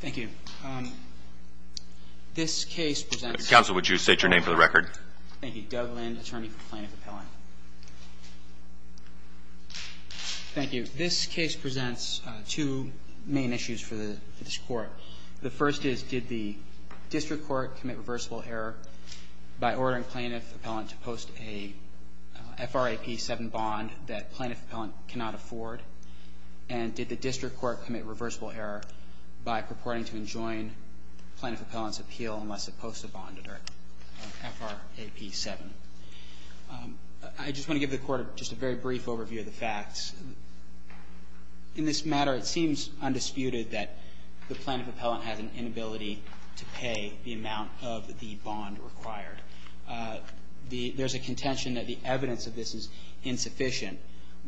Thank you. This case presents... Counsel, would you state your name for the record? Thank you. Doug Lind, attorney for plaintiff appellant. Thank you. This case presents two main issues for the district court. The first is, did the district court commit reversible error by ordering plaintiff appellant to post a FRAP 7 bond that plaintiff appellant cannot afford? And did the district court commit reversible error by purporting to enjoin plaintiff appellant's appeal unless it posts a bond under FRAP 7? I just want to give the Court just a very brief overview of the facts. In this matter, it seems undisputed that the plaintiff appellant has an inability to pay the amount of the bond required. There's a contention that the evidence of this is insufficient,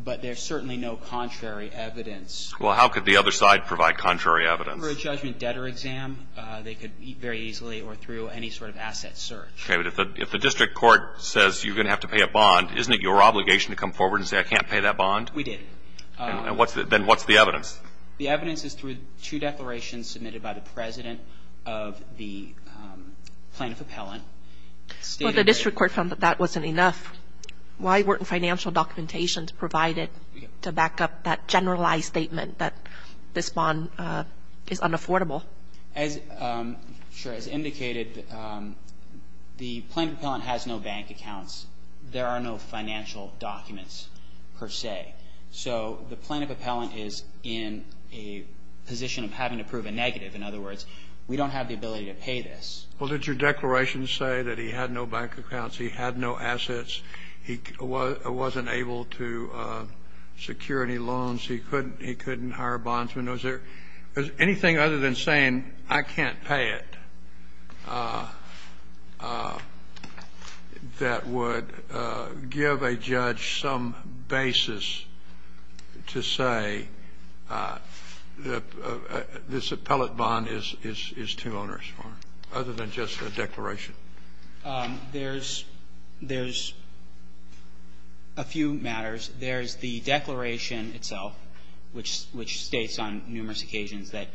but there's certainly no contrary evidence. Well, how could the other side provide contrary evidence? Through a judgment debtor exam. They could very easily or through any sort of asset search. Okay. But if the district court says you're going to have to pay a bond, isn't it your obligation to come forward and say, I can't pay that bond? We did. Then what's the evidence? The evidence is through two declarations submitted by the president of the plaintiff appellant. Well, the district court found that that wasn't enough. Why weren't financial documentations provided to back up that generalized statement that this bond is unaffordable? Sure. As indicated, the plaintiff appellant has no bank accounts. There are no financial documents, per se. So the plaintiff appellant is in a position of having to prove a negative. In other words, we don't have the ability to pay this. Well, did your declaration say that he had no bank accounts, he had no assets? He wasn't able to secure any loans? He couldn't hire a bondsman? Was there anything other than saying, I can't pay it, that would give a judge some basis to say that this appellant bond is two owners, other than just a declaration? There's a few matters. There's the declaration itself, which states on numerous occasions that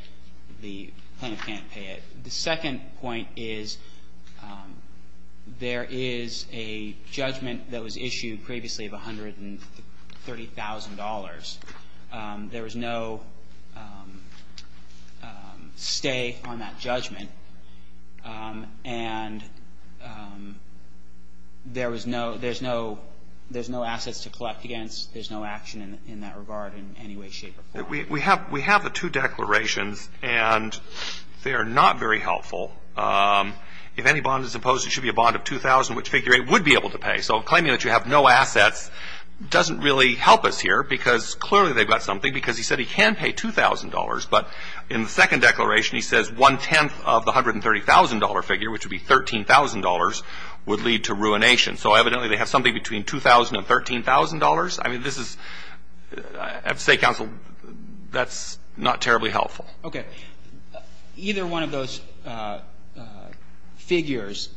the plaintiff can't pay it. The second point is there is a judgment that was issued previously of $130,000. There was no stay on that judgment. And there's no assets to collect against. There's no action in that regard in any way, shape, or form. We have the two declarations, and they are not very helpful. If any bond is imposed, it should be a bond of $2,000, which Figure 8 would be able to pay. So claiming that you have no assets doesn't really help us here, because clearly they've got something, because he said he can pay $2,000. But in the second declaration, he says one-tenth of the $130,000 figure, which would be $13,000, would lead to ruination. So evidently, they have something between $2,000 and $13,000. I mean, this is, I have to say, counsel, that's not terribly helpful. Okay. Either one of those figures,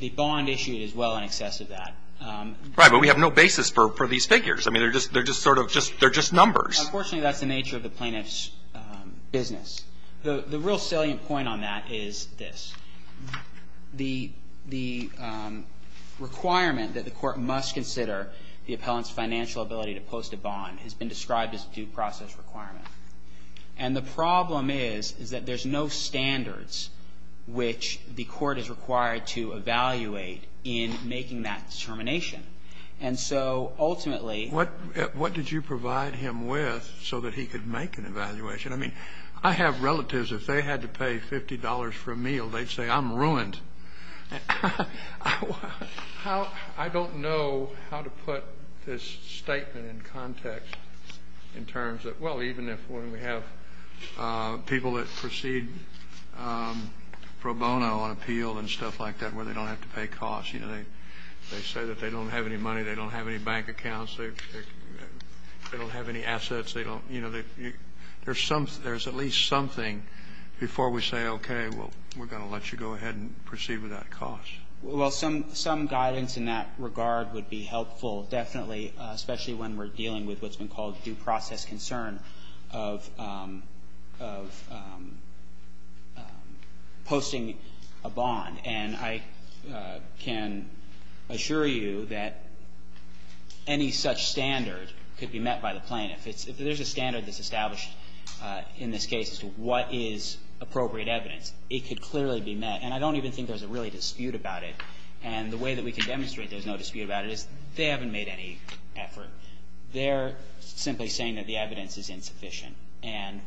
the bond issued is well in excess of that. Right. But we have no basis for these figures. I mean, they're just sort of just numbers. Unfortunately, that's the nature of the plaintiff's business. The real salient point on that is this. The requirement that the Court must consider the appellant's financial ability to post a bond has been described as a due process requirement. And the problem is, is that there's no standards which the Court is required to evaluate in making that determination. And so ultimately What did you provide him with? So that he could make an evaluation. I mean, I have relatives. If they had to pay $50 for a meal, they'd say, I'm ruined. I don't know how to put this statement in context in terms of, well, even if when we have people that proceed pro bono on appeal and stuff like that, where they don't have to pay costs, you know, they say that they don't have any money, they don't have any bank accounts, they don't have any assets, you know, there's at least something before we say, OK, well, we're going to let you go ahead and proceed with that cost. Well, some guidance in that regard would be helpful, definitely, especially when we're dealing with what's been called due process concern of posting a bond. And I can assure you that any such standard could be met by the plaintiff. If there's a standard that's established in this case as to what is appropriate evidence, it could clearly be met. And I don't even think there's a really dispute about it. And the way that we can demonstrate there's no dispute about it is they haven't made any effort. They're simply saying that the evidence is insufficient. And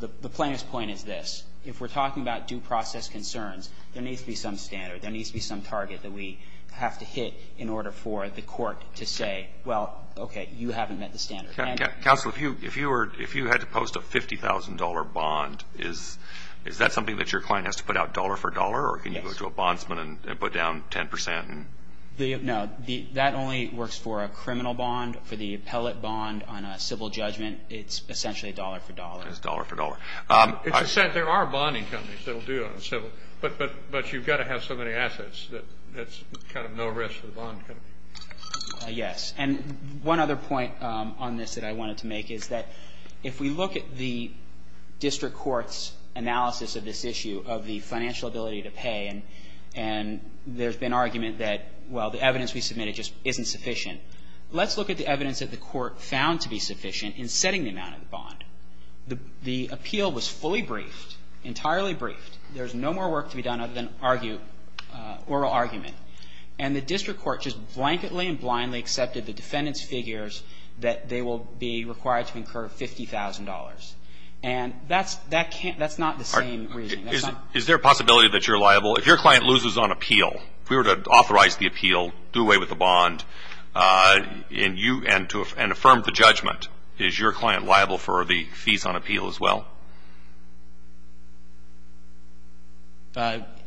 the plaintiff's point is this. If we're talking about due process concerns, there needs to be some standard. There needs to be some target that we have to hit in order for the court to say, well, OK, you haven't met the standard. Counsel, if you had to post a $50,000 bond, is that something that your client has to put out dollar for dollar? Or can you go to a bondsman and put down 10%? No. That only works for a criminal bond. For the appellate bond on a civil judgment, it's essentially dollar for dollar. It's dollar for dollar. There are bonding companies that will do it on a civil. But you've got to have so many assets that there's kind of no risk for the bond company. Yes. And one other point on this that I wanted to make is that if we look at the district court's analysis of this issue of the financial ability to pay, and there's been argument that, well, the evidence we submitted just isn't sufficient, let's look at the evidence that the court found to be sufficient in setting the amount of the bond. The appeal was fully briefed, entirely briefed. There's no more work to be done other than argue, oral argument. And the district court just blanketly and blindly accepted the defendant's figures that they will be required to incur $50,000. And that's not the same reasoning. Is there a possibility that you're liable? If your client loses on appeal, if we were to authorize the appeal, do away with the bond, and affirm the judgment, is your client liable for the fees on appeal as well?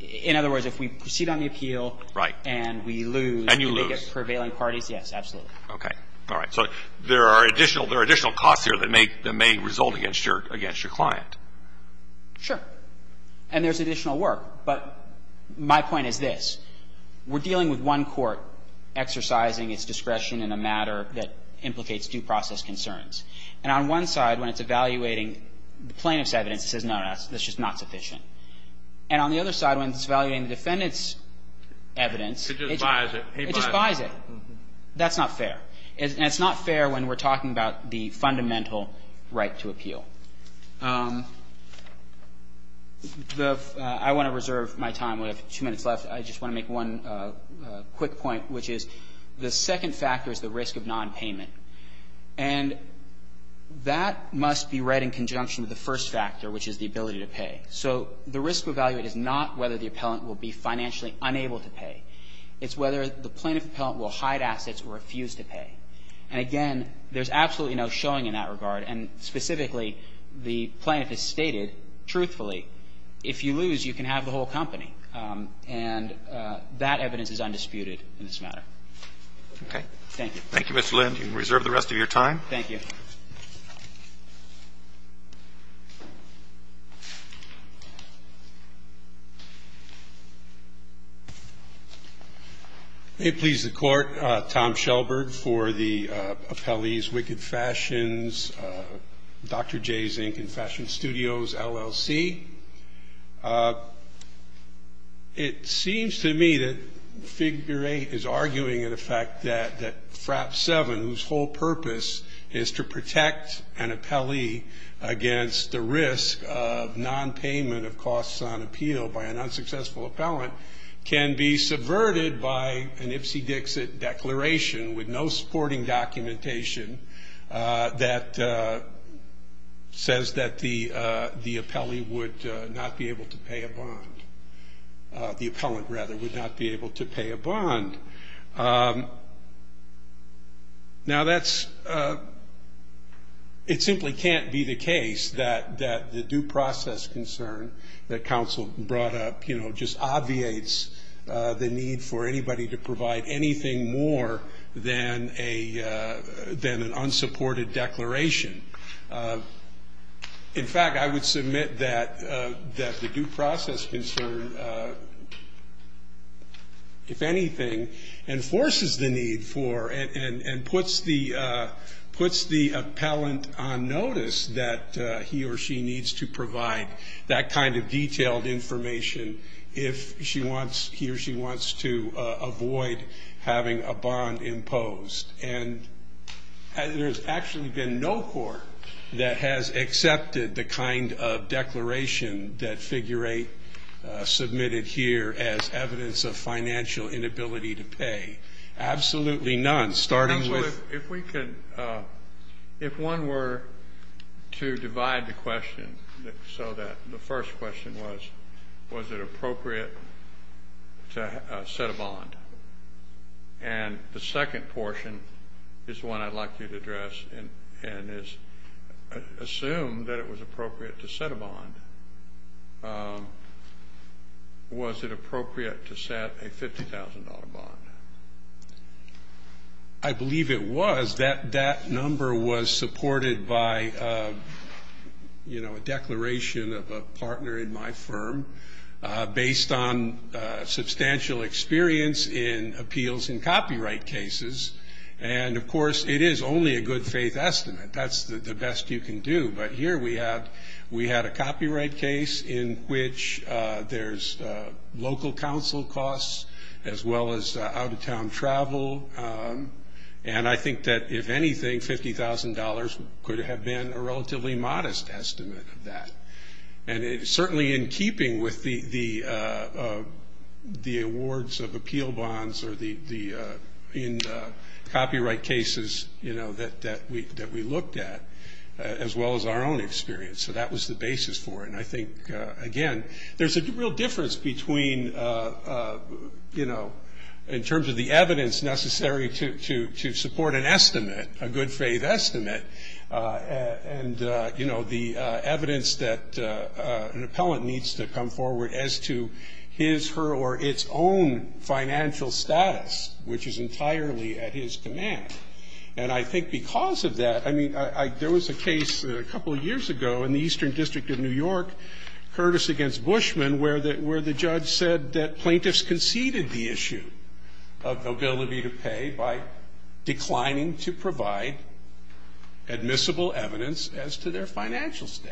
In other words, if we proceed on the appeal and we lose, do they get prevailing parties? Yes, absolutely. Okay. All right. So there are additional costs here that may result against your client. Sure. And there's additional work. But my point is this. We're dealing with one court exercising its discretion in a matter that implicates And on one side, when it's evaluating the case, it's evaluating the case in a way plaintiff's evidence says, no, that's just not sufficient. And on the other side, when it's evaluating the defendant's evidence, it just buys it. That's not fair. And it's not fair when we're talking about the fundamental right to appeal. I want to reserve my time. We have two minutes left. I just want to make one quick point, which is the second factor is the risk of nonpayment. And that must be read in conjunction with the first factor, which is the ability to pay. So the risk to evaluate is not whether the appellant will be financially unable to pay. It's whether the plaintiff-appellant will hide assets or refuse to pay. And again, there's absolutely no showing in that regard. And specifically, the plaintiff has stated, truthfully, if you lose, you can have the whole company. And that evidence is undisputed in this matter. Okay. Thank you. Thank you, Mr. Lind. You can reserve the rest of your time. Thank you. May it please the Court, Tom Shelberg for the appellees, Wicked Fashions, Dr. J. Zink and Fashion Studios, LLC. It seems to me that figure eight is arguing, in effect, that FRAP 7, whose whole purpose is to protect an appellee against the risk of nonpayment of costs on appeal by an unsuccessful appellant, can be subverted by an Ipsy-Dixit declaration with no supporting documentation that says that the appellee would not be able to pay a bond. The appellant, rather, would not be able to pay a bond. Now, it simply can't be the case that the due process concern that counsel brought up, just obviates the need for anybody to provide anything more than an unsupported declaration. In fact, I would submit that the due process concern, if anything, enforces the need for and puts the appellant on notice that he or she needs to provide that kind of detailed information if he or she wants to avoid having a bond imposed. And there's actually been no court that has accepted the kind of declaration that figure eight submitted here as evidence of financial inability to pay. Absolutely none, starting with- Was it appropriate to set a bond? And the second portion is the one I'd like you to address and assume that it was appropriate to set a bond. Was it appropriate to set a $50,000 bond? I believe it was. That number was supported by a declaration of a partner in my firm based on substantial experience in appeals in copyright cases. And of course, it is only a good faith estimate. That's the best you can do. But here we had a copyright case in which there's local council costs as well as out-of-town travel. And I think that, if anything, $50,000 could have been a relatively modest estimate of that. And certainly in keeping with the awards of appeal bonds or in copyright cases that we looked at, as well as our own experience. So that was the basis for it. And I think, again, there's a real difference between, in terms of the evidence necessary to support an estimate, a good faith estimate, and the evidence that an appellant needs to come forward as to his, her, or its own financial status, which is entirely at his command. And I think because of that, I mean, there was a case a couple of years ago in the Eastern District of New York, Curtis against Bushman, where the judge said that plaintiffs conceded the issue of ability to pay by declining to provide admissible evidence as to their financial state.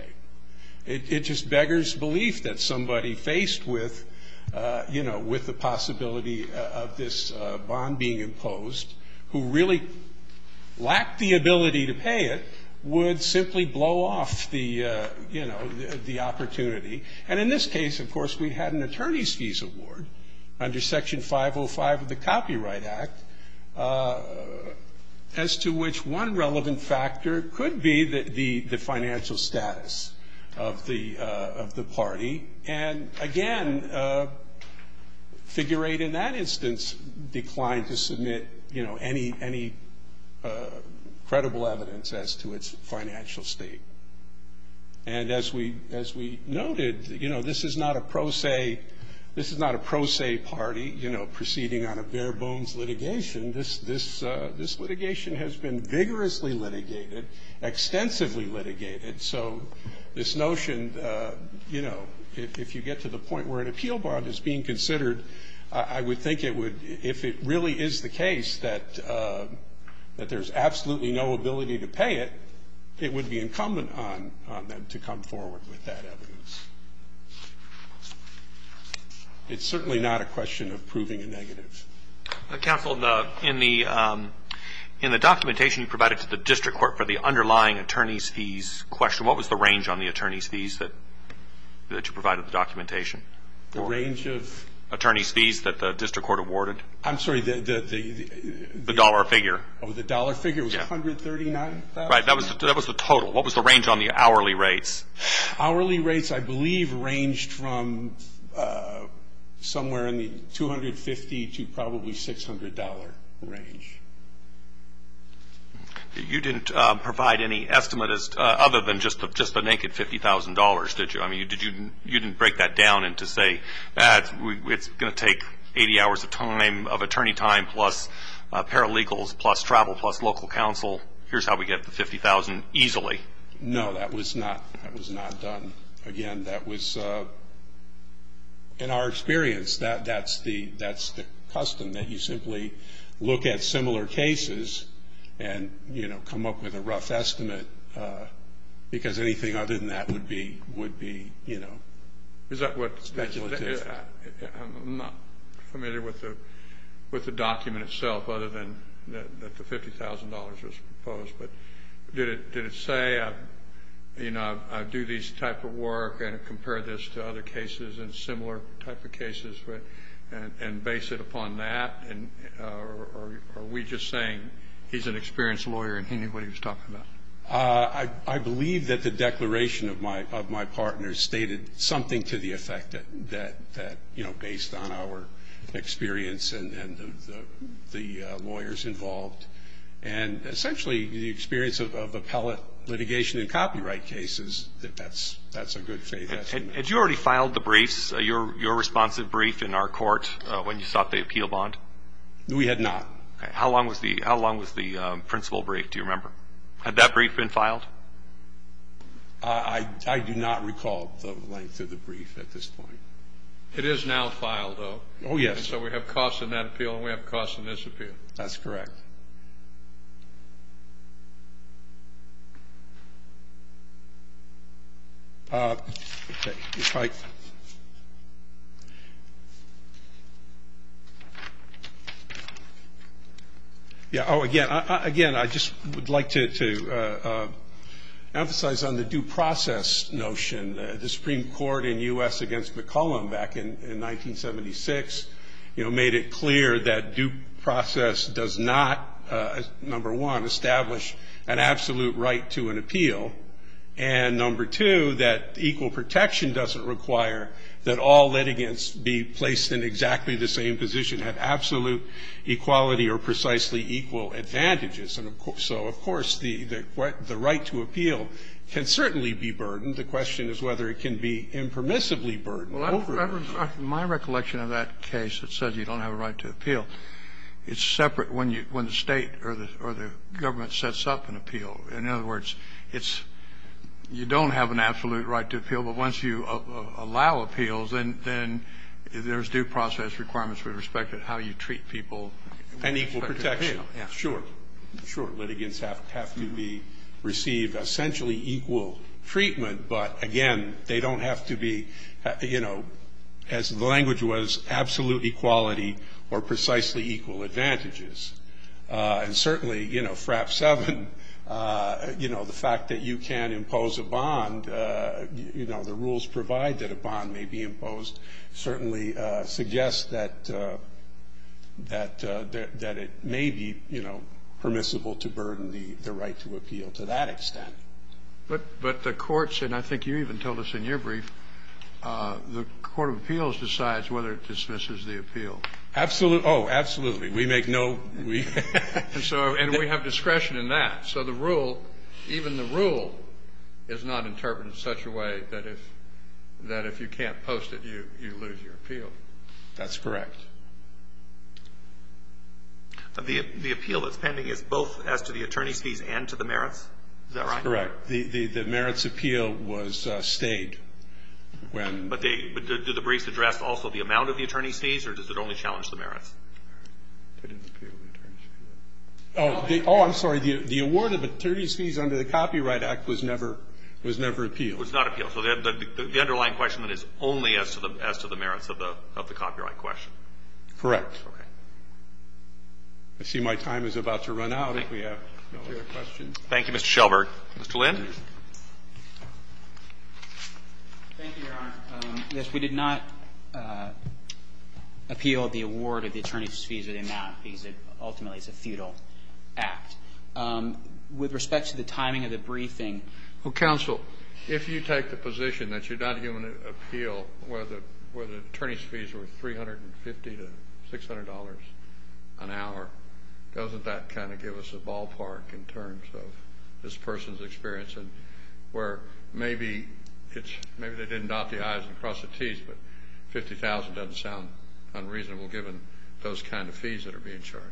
It just beggars belief that somebody faced with the possibility of this bond being imposed, who really lacked the ability to pay it, would simply blow off the opportunity. And in this case, of course, we had an attorney's fees award under Section 505 of the Copyright Act, as to which one relevant factor could be the financial status of the party. And again, figure eight in that instance declined to submit any credible evidence as to its financial state. And as we noted, this is not a pro se party proceeding on a bare bones litigation. This litigation has been vigorously litigated, extensively litigated. So this notion, if you get to the point where an appeal bond is being considered, I would think it would, if it really is the case that there's absolutely no ability to pay it, it would be incumbent on them to come forward with that evidence. It's certainly not a question of proving a negative. Counsel, in the documentation you provided to the district court for the underlying attorney's fees question, what was the range on the attorney's fees that you provided in the documentation? The range of? Attorney's fees that the district court awarded. I'm sorry, the dollar figure. Oh, the dollar figure was $139,000? Right, that was the total. What was the range on the hourly rates? Hourly rates, I believe, ranged from somewhere in the $250,000 to probably $600,000 range. You didn't provide any estimate other than just the naked $50,000, did you? I mean, you didn't break that down into, say, it's going to take 80 hours of attorney time plus paralegals, plus travel, plus local counsel. Here's how we get the $50,000 easily. No, that was not done. Again, that was, in our experience, that's the custom, that you simply look at similar cases and, you know, come up with a rough estimate, because anything other than that would be, you know, speculative. I'm not familiar with the document itself, other than that the $50,000 was proposed. But did it say, you know, I do this type of work and compare this to other cases and similar type of cases and base it upon that? Or are we just saying he's an experienced lawyer and he knew what he was talking about? I believe that the declaration of my partner stated something to the effect that, you know, based on our experience and the lawyers involved and essentially the experience of appellate litigation in copyright cases, that that's a good thing. Had you already filed the briefs, your responsive brief in our court when you sought the appeal bond? We had not. How long was the principal brief, do you remember? Had that brief been filed? I do not recall the length of the brief at this point. It is now filed, though. Oh, yes. So we have costs in that appeal and we have costs in this appeal. That's correct. Yeah, oh, again, I just would like to emphasize on the due process notion. The Supreme Court in U.S. against McCullum back in 1976, you know, made it clear that due process does not, number one, establish an absolute right to an appeal. And number two, that equal protection doesn't require that all litigants be placed in exactly the same position, have absolute equality or precisely equal advantages. And so, of course, the right to appeal can certainly be burdened. But the question is whether it can be impermissibly burdened. Well, my recollection of that case that says you don't have a right to appeal, it's separate when the State or the government sets up an appeal. In other words, it's you don't have an absolute right to appeal, but once you allow appeals, then there's due process requirements with respect to how you treat people with respect to appeal. And equal protection, sure, sure. Litigants have to be received essentially equal treatment, but, again, they don't have to be, you know, as the language was, absolute equality or precisely equal advantages. And certainly, you know, FRAP 7, you know, the fact that you can't impose a bond, you know, the rules provide that a bond may be imposed certainly suggests that it may be, you know, permissible to burden the right to appeal to that extent. But the courts, and I think you even told us in your brief, the Court of Appeals decides whether it dismisses the appeal. Oh, absolutely. We make no weak. And so we have discretion in that. So the rule, even the rule is not interpreted in such a way that if you can't post it, you lose your appeal. That's correct. The appeal that's pending is both as to the attorney's fees and to the merits? Is that right? That's correct. The merits appeal was stayed when But do the briefs address also the amount of the attorney's fees, or does it only challenge the merits? Oh, I'm sorry. The award of attorney's fees under the Copyright Act was never appealed. Was not appealed. So the underlying question is only as to the merits of the copyright question. Correct. I see my time is about to run out if we have no other questions. Thank you, Mr. Shelberg. Mr. Lynn. Thank you, Your Honor. Yes, we did not appeal the award of the attorney's fees or the amount fees. It ultimately is a feudal act. With respect to the timing of the briefing. Counsel, if you take the position that you're not going to appeal whether the attorney's fees were $350 to $600 an hour, doesn't that kind of give us a ballpark in terms of this person's experience and where maybe they didn't dot the I's and cross the T's, but $50,000 doesn't sound unreasonable given those kind of fees that are being charged.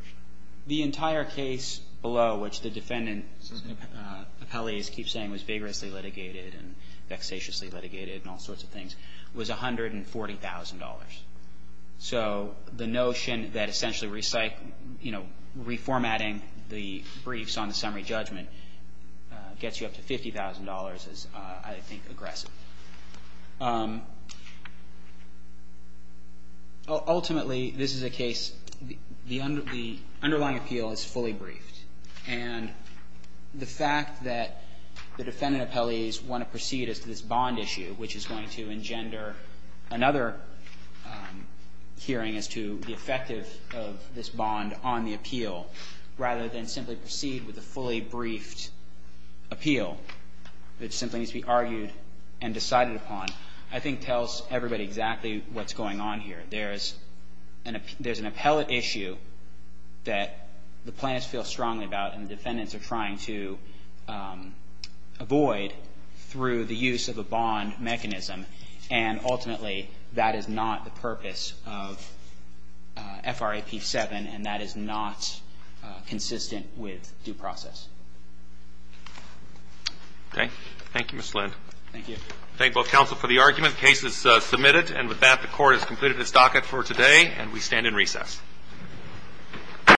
The entire case below, which the defendant, as the colleagues keep saying, was vigorously litigated and vexatiously litigated and all sorts of things, was $140,000. So the notion that essentially reformatting the briefs on the summary judgment gets you up to $50,000 is, I think, aggressive. Ultimately, this is a case, the underlying appeal is fully briefed. And the fact that the defendant appellees want to proceed as to this bond issue, which is going to engender another hearing as to the effect of this bond on the appeal, rather than simply proceed with a fully briefed appeal, it simply needs to be argued and decided upon, I think tells everybody exactly what's going on here. There's an appellate issue that the plaintiffs feel strongly about and the defendants are trying to avoid through the use of a bond mechanism. And ultimately, that is not the purpose of FRAP 7, and that is not consistent with due process. Okay. Thank you, Mr. Lind. Thank you. I thank both counsel for the argument. The case is submitted. And with that, the court has completed its docket for today and we stand in recess.